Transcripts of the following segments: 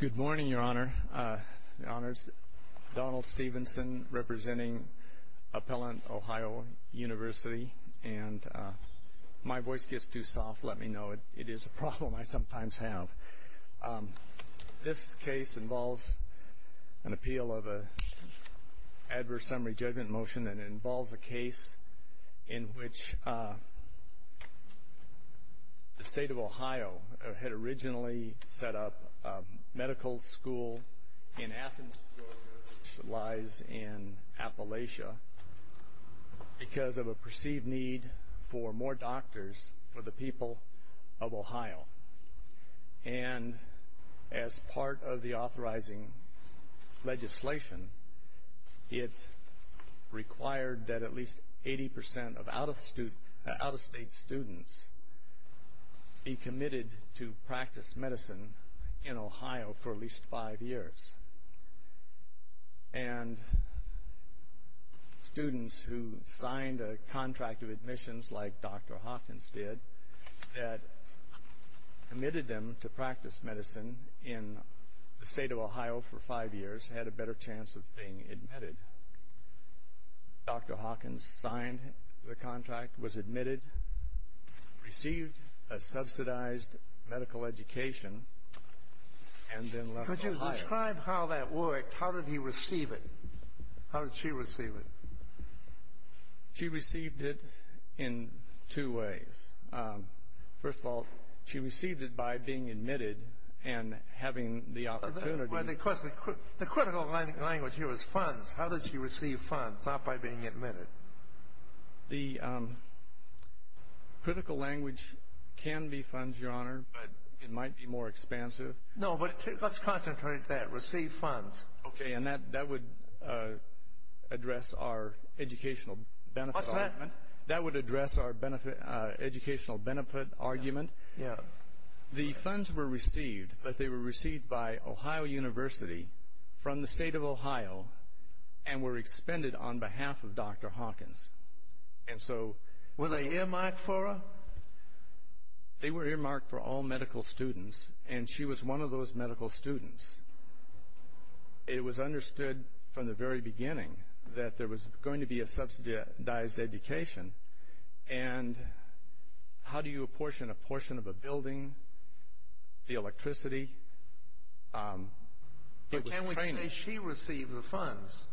Good morning, Your Honor. Your Honor, it's Donald Stevenson representing Appellant Ohio University, and my voice gets too soft. Let me know. It is a problem I sometimes have. This case involves an appeal of an adverse summary judgment motion that involves a case in which the state of Ohio had originally set up a medical school in Athens, Georgia, which lies in Appalachia, because of a perceived need for more doctors for the people of Ohio. And as part of the authorizing legislation, it required that at least 80% of out-of-state students be committed to practice medicine in Ohio for at least five years. And students who signed a contract of admissions, like Dr. Hawkins did, that committed them to practice medicine in the state of Ohio for five years had a better chance of being admitted. Dr. Hawkins signed the contract, was admitted, received a subsidized medical education, and then left Ohio. Could you describe how that worked? How did he receive it? How did she receive it? She received it in two ways. First of all, she received it by being admitted and having the opportunity. The critical language here was funds. How did she receive funds, not by being admitted? The critical language can be funds, Your Honor, but it might be more expansive. No, but let's concentrate there. Receive funds. Okay, and that would address our educational benefit argument. That would address our educational benefit argument. The funds were received, but they were received by Ohio University from the state of Ohio and were expended on behalf of Dr. Hawkins. And so... Were they earmarked for her? They were earmarked for all medical students, and she was one of those medical students. It was understood from the very beginning that there was going to be a subsidized education, and how do you apportion a portion of a building, the electricity, it was training. But can we say she received the funds?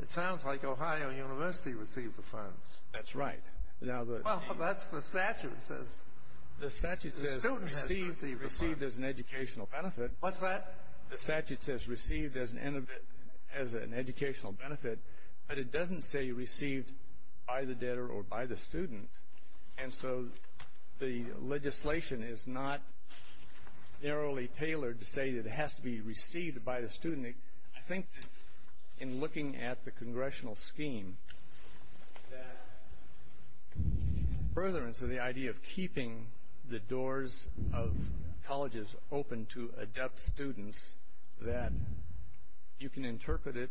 It sounds like Ohio University received the funds. That's right. Well, that's what the statute says. The statute says received as an educational benefit. What's that? The statute says received as an educational benefit, but it doesn't say received by the debtor or by the student. And so the legislation is not narrowly tailored to say that it has to be received by the student. I think that in looking at the congressional scheme, that furtherance of the idea of keeping the doors of colleges open to adept students, that you can interpret it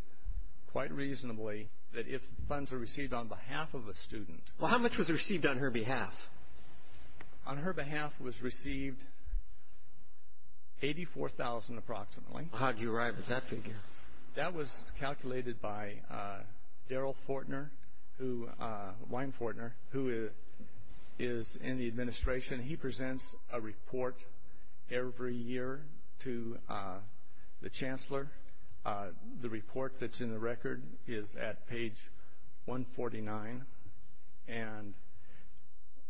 quite reasonably that if funds are received on behalf of a student... Well, how much was received on her behalf? On her behalf was received $84,000 approximately. How'd you arrive at that figure? That was calculated by Darrell Fortner, Wayne Fortner, who is in the administration. He presents a report every year to the chancellor. The report that's in the record is at page 149, and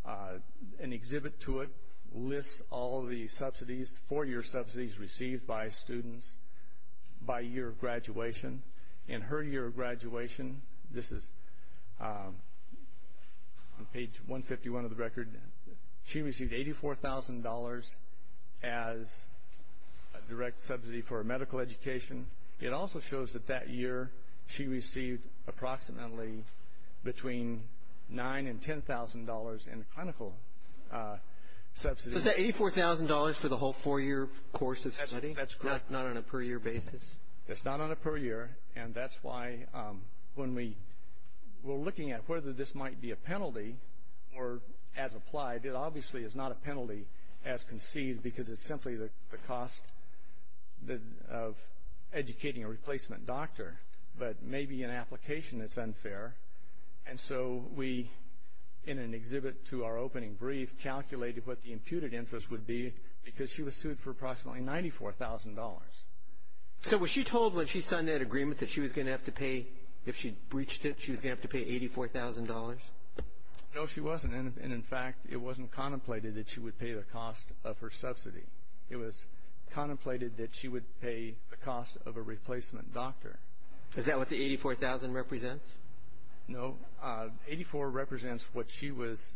an exhibit to it lists all the subsidies, four-year subsidies received by students by year of graduation. In her year of graduation, this is on page 151 of the record, she received $84,000 as a direct subsidy for a medical education. It also shows that that year she received approximately between $9,000 and $10,000 in clinical subsidies. Was that $84,000 for the whole four-year course of study? That's correct. Not on a per-year basis? That's not on a per-year, and that's why when we were looking at whether this might be a penalty or as applied, it obviously is not a penalty as conceived because it's simply the cost of educating a replacement doctor, but maybe in application it's unfair. And so we, in an exhibit to our opening brief, calculated what the imputed interest would be because she was sued for approximately $94,000. So was she told when she signed that agreement that she was going to have to pay, if she breached it, she was going to have to pay $84,000? No, she wasn't, and in fact, it wasn't contemplated that she would pay the cost of her subsidy. It was contemplated that she would pay the cost of a replacement doctor. Is that what the $84,000 represents? No. $84,000 represents what she was,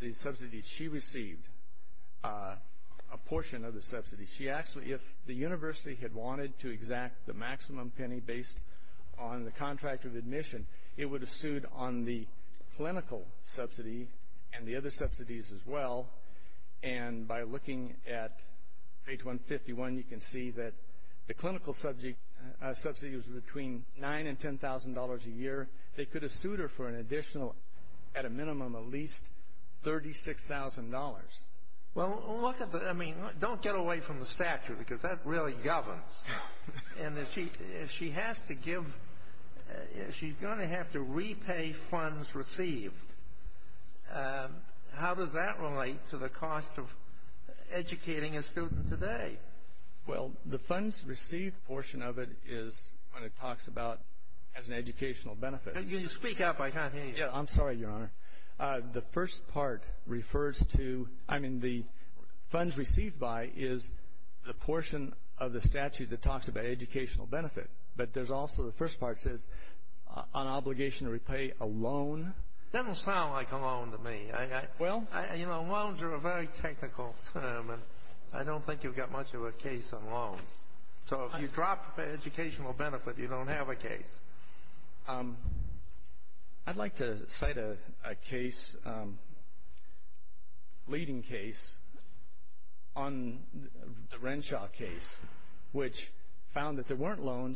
the subsidies she received, a portion of the subsidy. She actually, if the university had wanted to exact the maximum penny based on the contract of admission, it would have sued on the clinical subsidy and the other subsidies as well. And by looking at page 151, you can see that the clinical subsidy was between $9,000 and $10,000 a year. They could have sued her for an additional, at a minimum, at least $36,000. Well, look at the, I mean, don't get away from the statute because that really governs. And if she has to give, if she's going to have to repay funds received, how does that relate to the cost of educating a student today? Well, the funds received portion of it is when it talks about as an educational benefit. Can you speak up? I can't hear you. Yeah, I'm sorry, Your Honor. The first part refers to, I mean, the funds received by is the portion of the statute that talks about educational benefit. But there's also, the first part says on obligation to repay a loan. That don't sound like a loan to me. Well? You know, loans are a very technical term, and I don't think you've got much of a case on loans. So if you drop the educational benefit, you don't have a case. I'd like to cite a case, leading case, on the Renshaw case, which found that there weren't a loan.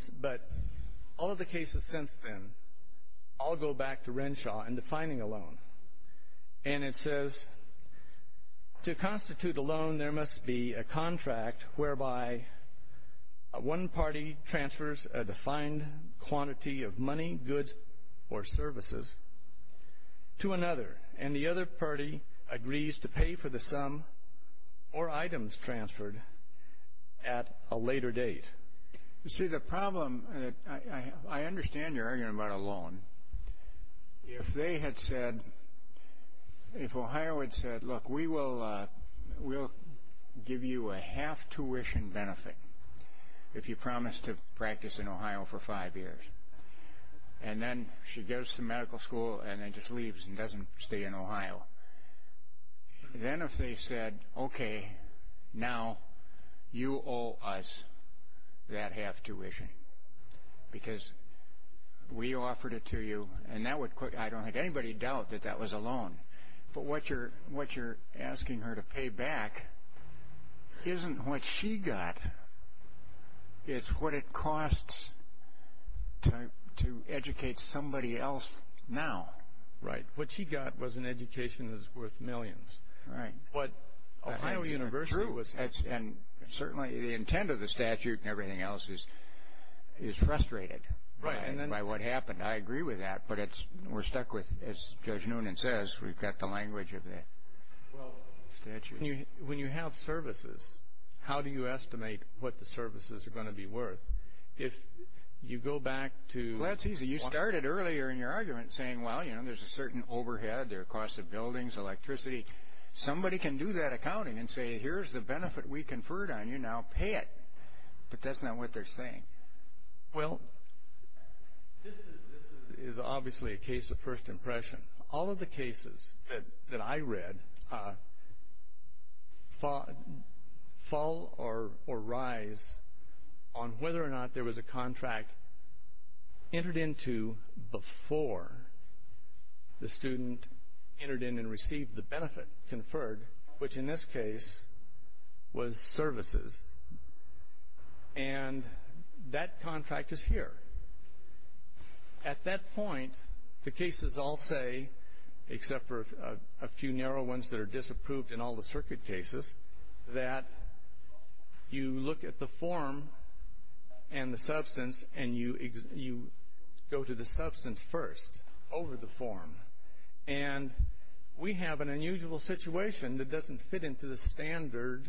And it says, to constitute a loan, there must be a contract whereby one party transfers a defined quantity of money, goods, or services to another, and the other party agrees to pay for the sum or items transferred at a later date. You see, the problem, I understand you're arguing about a loan. If they had said, if Ohio had said, look, we will give you a half tuition benefit if you promise to practice in Ohio for five years. And then she goes to medical school and then just leaves and doesn't stay in Ohio. Now, then if they said, okay, now you owe us that half tuition, because we offered it to you, and that would, I don't think anybody would doubt that that was a loan. But what you're asking her to pay back isn't what she got, it's what it costs to educate somebody else now. Right. What she got was an education that's worth millions. Right. What Ohio University was... And certainly the intent of the statute and everything else is frustrated by what happened. I agree with that, but we're stuck with, as Judge Noonan says, we've got the language of the statute. When you have services, how do you estimate what the services are going to be worth? If you go back to... Well, that's easy. You started earlier in your argument saying, well, you know, there's a certain overhead, there are costs of buildings, electricity. Somebody can do that accounting and say, here's the benefit we conferred on you, now pay it. But that's not what they're saying. Well, this is obviously a case of first impression. All of the cases that I read fall or rise on whether or not there was a contract entered into before the student entered in and received the benefit conferred, which in this case was services. And that contract is here. At that point, the cases all say, except for a few narrow ones that are disapproved in all the circuit cases, that you look at the form and the substance and you go to the substance first over the form. And we have an unusual situation that doesn't fit into the standard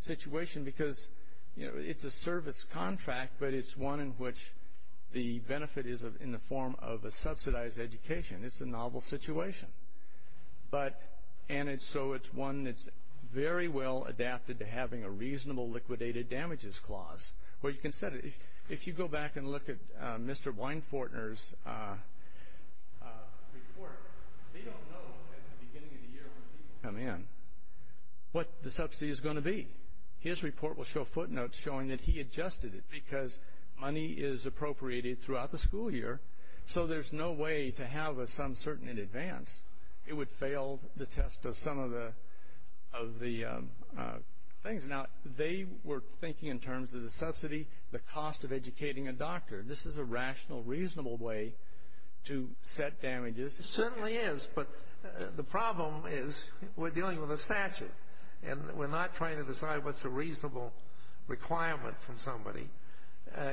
situation because it's a service contract, but it's one in which the benefit is in the form of a subsidized education. It's a novel situation. But, and so it's one that's very well adapted to having a reasonable liquidated damages clause, where you can set it. If you go back and look at Mr. Weinfortner's report, they don't know at the beginning of the year when people come in what the subsidy is going to be. His report will show footnotes showing that he adjusted it because money is appropriated throughout the school year. So there's no way to have a some certain in advance. It would fail the test of some of the things. Now they were thinking in terms of the subsidy, the cost of educating a doctor. This is a rational, reasonable way to set damages. It certainly is, but the problem is we're dealing with a statute and we're not trying to decide what's a reasonable requirement from somebody.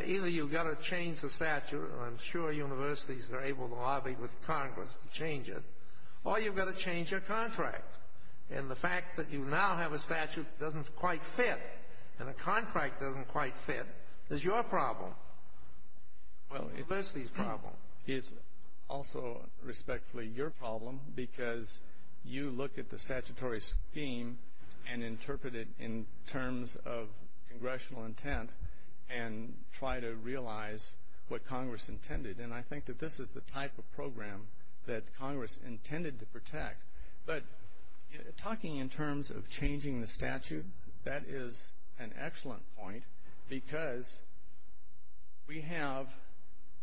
Either you've got to change the statute, and I'm sure universities are able to lobby with Congress to change it, or you've got to change your contract. And the fact that you now have a statute that doesn't quite fit and the contract doesn't quite fit is your problem. Well, it's the university's problem. It's also respectfully your problem because you look at the statutory scheme and interpret it in terms of congressional intent and try to realize what Congress intended. And I think that this is the type of program that Congress intended to protect. But talking in terms of changing the statute, that is an excellent point because we have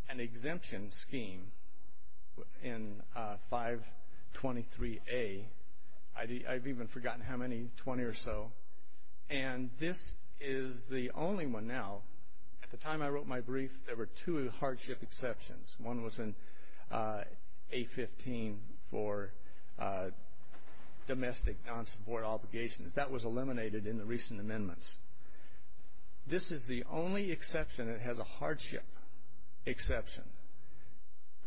an exemption scheme in 523A. I've even forgotten how many, 20 or so. And this is the only one now. At the time I wrote my brief, there were two hardship exceptions. One was in 815 for domestic non-support obligations. That was eliminated in the recent amendments. This is the only exception that has a hardship exception.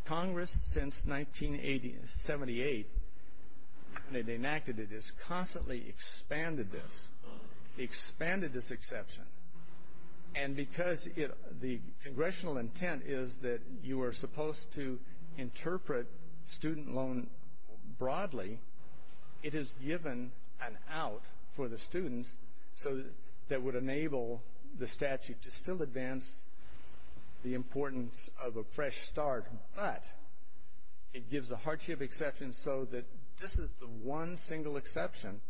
Congress, since 1978, when it enacted it, has constantly expanded this, expanded this exception. And because the congressional intent is that you are supposed to interpret student loan broadly, it has given an out for the students so that would enable the statute to still advance the importance of a fresh start. But it gives a hardship exception so that this is the one single exception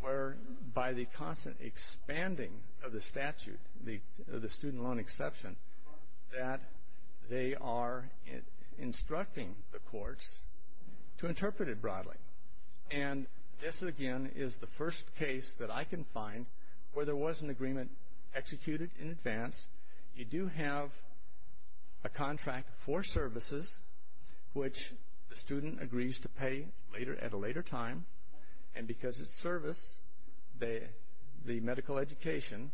where by the constant expanding of the statute, the student loan exception, that they are instructing the courts to interpret it broadly. And this, again, is the first case that I can find where there was an agreement executed in advance. You do have a contract for services, which the student agrees to pay at a later time. And because it's service, the medical education,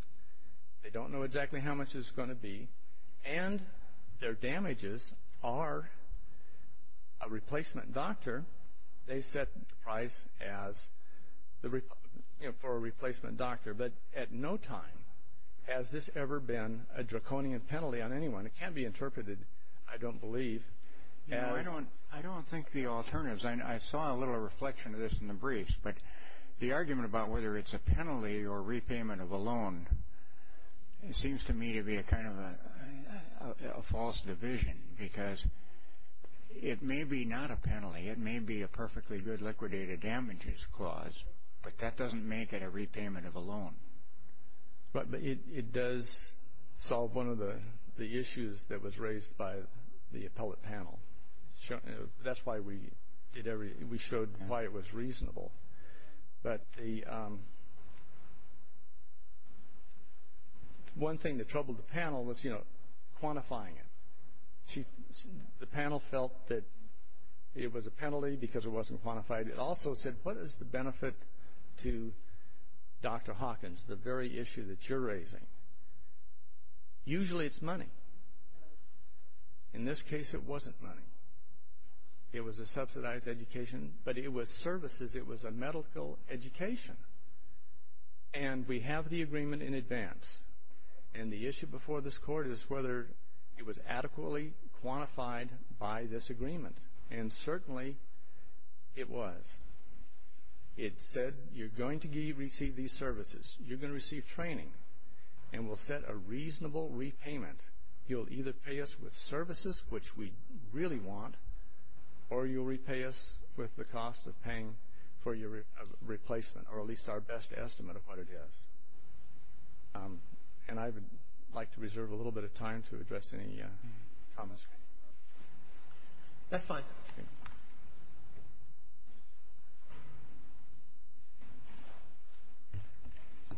they don't know exactly how much it's going to be. And their damages are a replacement doctor. They set the price for a replacement doctor. But at no time has this ever been a draconian penalty on anyone. It can be interpreted, I don't believe, as... I don't think the alternatives, I saw a little reflection of this in the briefs, but the argument about whether it's a penalty or repayment of a loan seems to me to be a kind of a false division because it may be not a penalty. It may be a perfectly good liquidated damages clause, but that doesn't make it a repayment of a loan. But it does solve one of the issues that was raised by the appellate panel. That's why we did every... We showed why it was reasonable. But the... One thing that troubled the panel was, you know, quantifying it. The panel felt that it was a penalty because it wasn't quantified. It also said, what is the benefit to Dr. Hawkins, the very issue that you're raising? Usually it's money. In this case, it wasn't money. It was a subsidized education, but it was services. It was a medical education. And we have the agreement in advance. And the issue before this Court is whether it was adequately quantified by this agreement. And certainly, it was. It said, you're going to receive these services. You're going to receive training. And we'll set a reasonable repayment. You'll either pay us with services, which we really want, or you'll repay us with the cost of paying for your replacement, or at least our best estimate of what it is. And I would like to reserve a little bit of time to address any comments. That's fine.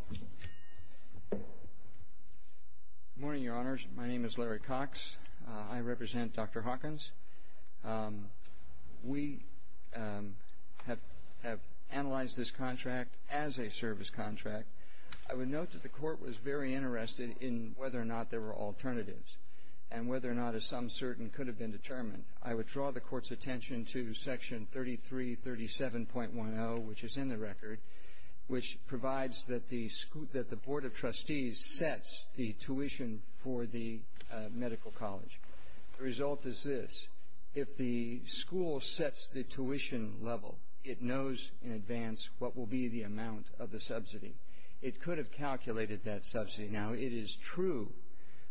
Good morning, Your Honors. My name is Larry Cox. I represent Dr. Hawkins. We have analyzed this contract as a service contract. I would note that the Court was very interested in whether or not there were alternatives and whether or not a some certain could have been determined. I would draw the Court's attention to Section 3337.10, which is in the record, which provides that the Board of Trustees sets the tuition for the medical college. The result is this. If the school sets the tuition level, it knows in advance what will be the amount of the subsidy. It could have calculated that subsidy. Now, it is true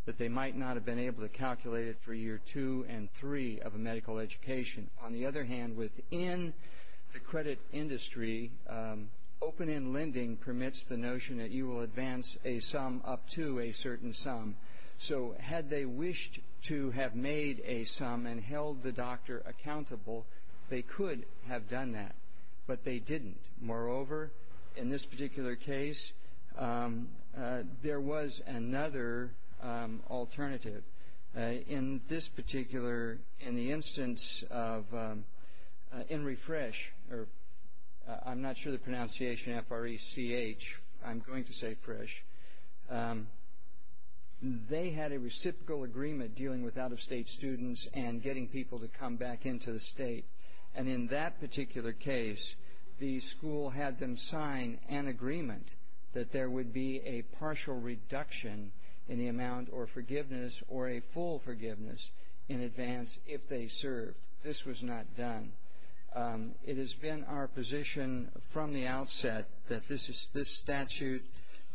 that they might not have been able to calculate it for year two and three of a medical education. On the other hand, within the credit industry, open-end lending permits the notion that you will advance a sum up to a certain sum. So had they wished to have made a sum and held the doctor accountable, they could have done that, but they didn't. Moreover, in this particular case, there was another alternative. In this particular, in the instance of Henry Fresh, or I'm not sure the pronunciation, F-R-E-C-H. I'm going to say Fresh. They had a reciprocal agreement dealing with out-of-state students and getting people to come back into the state. And in that particular case, the school had them sign an agreement that there would be a partial reduction in the amount or forgiveness or a full forgiveness in advance if they served. This was not done. It has been our position from the outset that this statute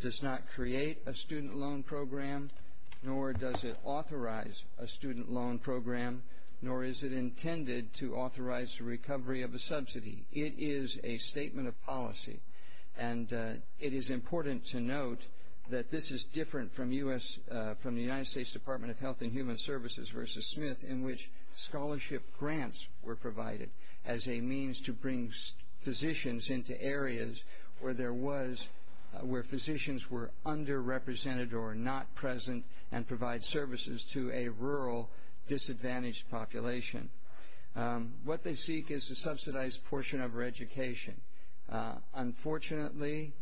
does not create a student loan program, nor does it authorize a student loan program, nor is it intended to authorize the recovery of a subsidy. It is a statement of policy. And it is important to note that this is different from the United States Department of Health and Human Services versus Smith in which scholarship grants were provided as a means to bring physicians into areas where there was, where physicians were underrepresented or not present and provide services to a rural disadvantaged population. What they seek is a subsidized portion of our education. Unfortunately,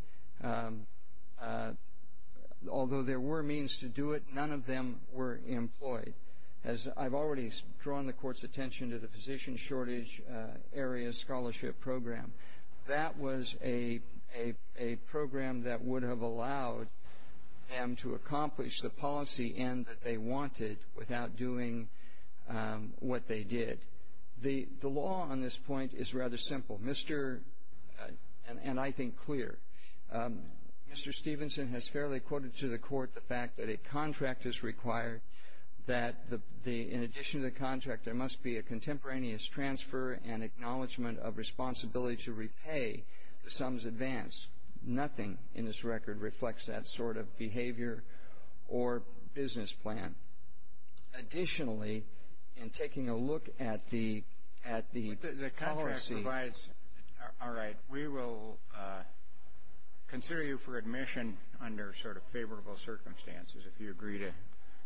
although there were means to do it, none of them were employed. I've already drawn the Court's attention to the Physician Shortage Area Scholarship Program. That was a program that would have allowed them to accomplish the policy end that they wanted without doing what they did. The law on this point is rather simple, and I think clear. Mr. Stevenson has fairly quoted to the Court the fact that a contract is required, that in addition to the contract, there must be a contemporaneous transfer and acknowledgement of responsibility to repay the sums advanced. Nothing in this record reflects that sort of behavior or business plan. Additionally, in taking a look at the policy... I consider you for admission under sort of favorable circumstances if you agree to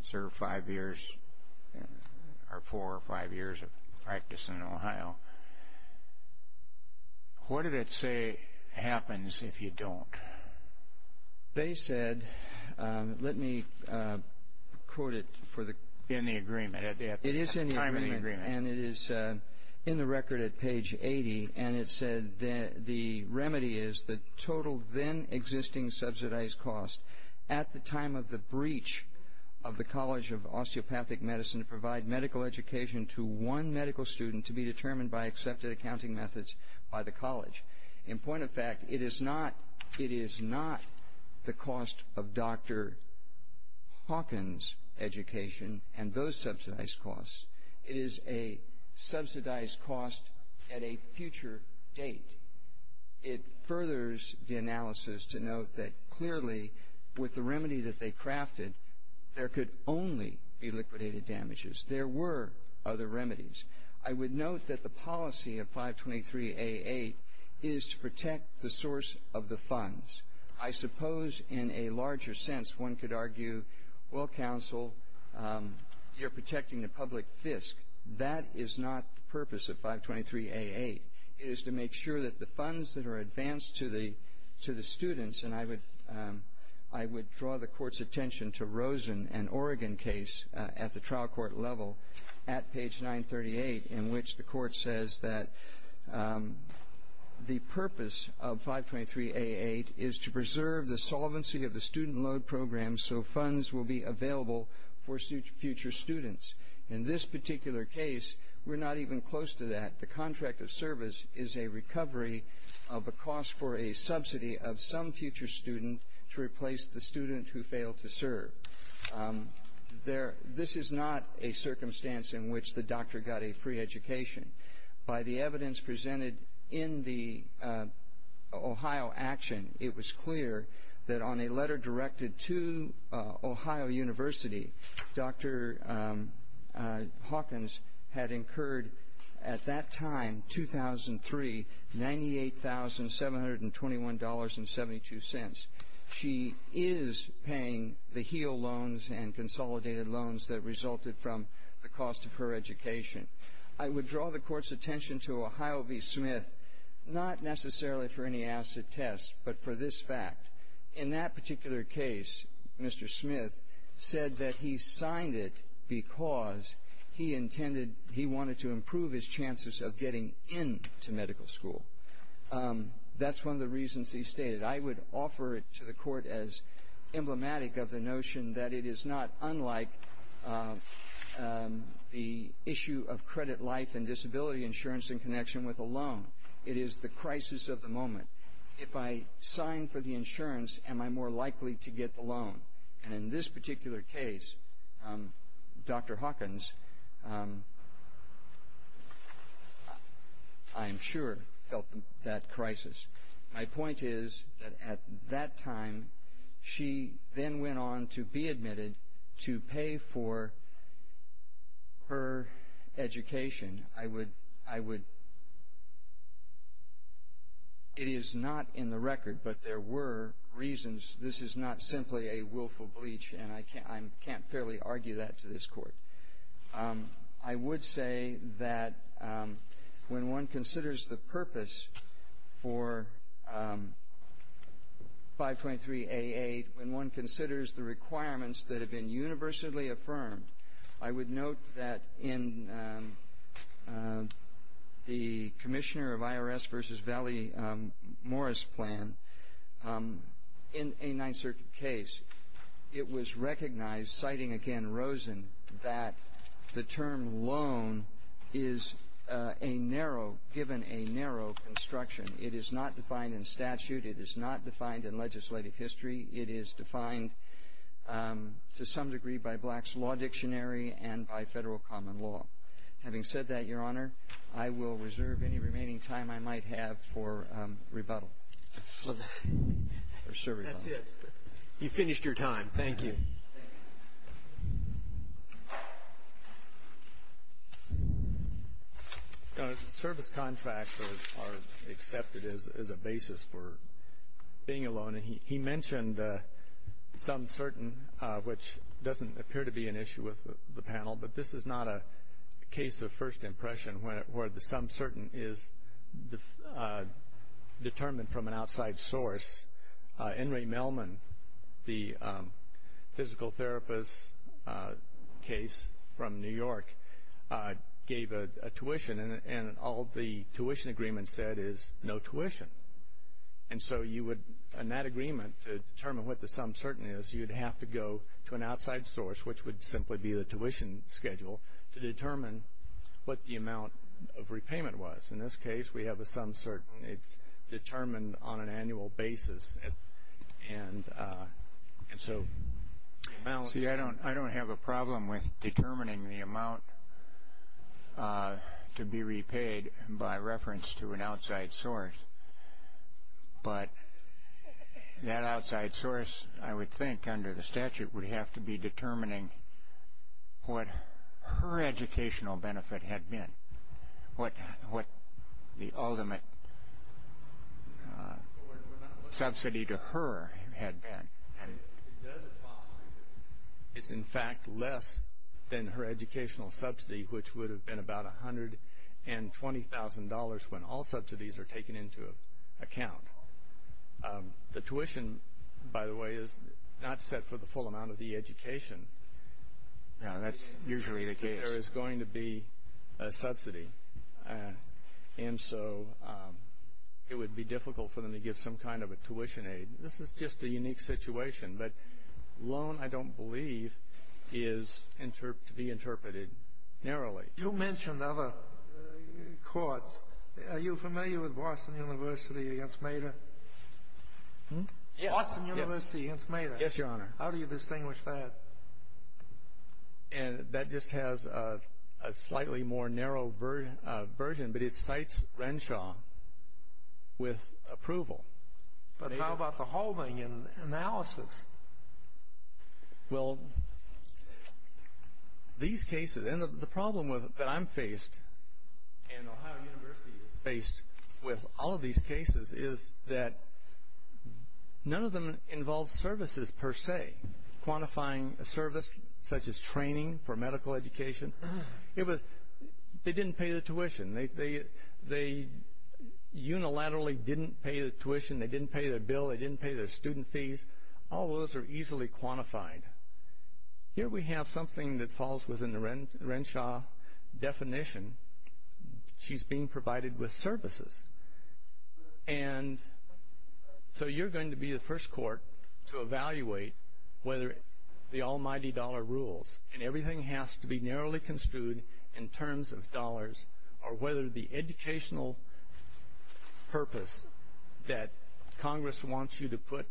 serve five years or four or five years of practice in Ohio. What did it say happens if you don't? They said, let me quote it for the... In the agreement at the time of the agreement. And it is in the record at page 80, and it said the remedy is the total then existing subsidized cost at the time of the breach of the College of Osteopathic Medicine to provide medical education to one medical student to be determined by accepted accounting methods by the college. In point of fact, it is not the cost of Dr. Hawkins' education and those subsidized costs. It is a subsidized cost at a future date. It furthers the analysis to note that clearly with the remedy that they crafted, there could only be liquidated damages. There were other remedies. I would note that the policy of 523A8 is to protect the source of the funds. I suppose in a larger sense one could argue, well, counsel, you're protecting the public fisc. That is not the purpose of 523A8. It is to make sure that the funds that are advanced to the students, and I would draw the court's attention to Rosen and Oregon case at the trial court level at page 938 in which the court says that the purpose of 523A8 is to preserve the solvency of the student loan program so funds will be available for future students. In this particular case, we're not even close to that. The contract of service is a recovery of a cost for a subsidy of some future student to replace the student who failed to serve. This is not a circumstance in which the doctor got a free education. By the evidence presented in the Ohio action, it was clear that on a letter directed to Ohio University, Dr. Hawkins had incurred at that time, 2003, $98,721.72. She is paying the HEAL loans and consolidated loans that resulted from the cost of her education. I would draw the court's attention to Ohio v. Smith, not necessarily for any acid test, but for this fact. In that particular case, Mr. Smith said that he signed it because he intended, he wanted to improve his chances of getting into medical school. That's one of the reasons he stated. I would offer it to the court as emblematic of the notion that it is not unlike the issue of credit life and disability insurance in connection with a loan. It is the crisis of the moment. If I sign for the insurance, am I more likely to get the loan? And in this particular case, Dr. Hawkins, I am sure, felt that crisis. My point is that at that time, she then went on to be admitted to pay for her education. I would, it is not in the record, but there were reasons. This is not simply a willful bleach, and I can't fairly argue that to this court. I would say that when one considers the purpose for 5.3A8, when one considers the requirements that have been universally affirmed, I would note that in the Commissioner of IRS v. Valley Morris plan, in a Ninth Circuit case, it was recognized, citing again Rosen, that the term loan is a narrow, given a narrow construction. It is not defined in statute. It is not defined in legislative history. It is defined to some degree by Black's Law Dictionary and by federal common law. Having said that, Your Honor, I will reserve any remaining time I might have for rebuttal. That's it. You've finished your time. Thank you. Your Honor, service contracts are accepted as a basis for being a loan. He mentioned some certain, which doesn't appear to be an issue with the panel, but this is not a case of first impression where the sum certain is determined from an outside source. Henry Mellman, the physical therapist case from New York, gave a tuition, and all the tuition agreement said is no tuition. And so you would, in that agreement, to determine what the sum certain is, you would have to go to an outside source, which would simply be the tuition schedule, to determine what the amount of repayment was. In this case, we have a sum certain. It's determined on an annual basis. See, I don't have a problem with determining the amount to be repaid by reference to an outside source, but that outside source, I would think, under the statute, would have to be determining what her educational benefit had been, what the ultimate subsidy to her had been. It's, in fact, less than her educational subsidy, which would have been about $120,000 when all subsidies are taken into account. The tuition, by the way, is not set for the full amount of the education. That's usually the case. There is going to be a subsidy, and so it would be difficult for them to give some kind of a tuition aid. This is just a unique situation, but loan, I don't believe, is to be interpreted narrowly. You mentioned other courts. Are you familiar with Boston University against Meder? Boston University against Meder? Yes, Your Honor. How do you distinguish that? That just has a slightly more narrow version, but it cites Renshaw with approval. But how about the Halving analysis? Well, these cases, and the problem that I'm faced, and Ohio University is faced with all of these cases, is that none of them involve services per se, quantifying a service such as training for medical education. They didn't pay the tuition. They unilaterally didn't pay the tuition. They didn't pay their bill. They didn't pay their student fees. All of those are easily quantified. Here we have something that falls within the Renshaw definition. She's being provided with services, and so you're going to be the first court to evaluate whether the almighty dollar rules, and everything has to be narrowly construed in terms of dollars, or whether the educational purpose that Congress wants you to put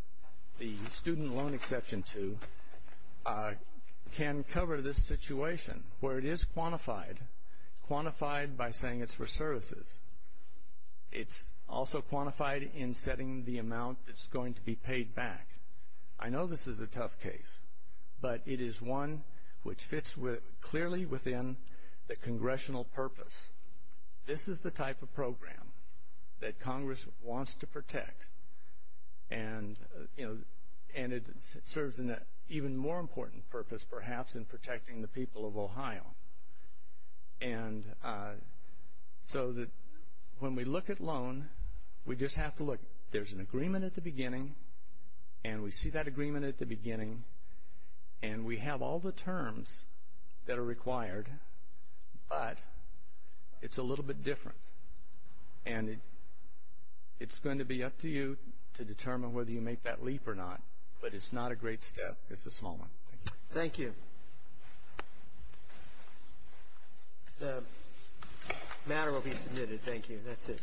the student loan exception to can cover this situation, where it is quantified, quantified by saying it's for services. It's also quantified in setting the amount that's going to be paid back. I know this is a tough case, but it is one which fits clearly within the congressional purpose. This is the type of program that Congress wants to protect, and it serves an even more important purpose, perhaps, in protecting the people of Ohio. When we look at loan, we just have to look. There's an agreement at the beginning, and we see that agreement at the beginning, and we have all the terms that are required, but it's a little bit different, and it's going to be up to you to determine whether you make that leap or not, but it's not a great step. It's a small one. Thank you. Thank you. The matter will be submitted. Thank you. That's it.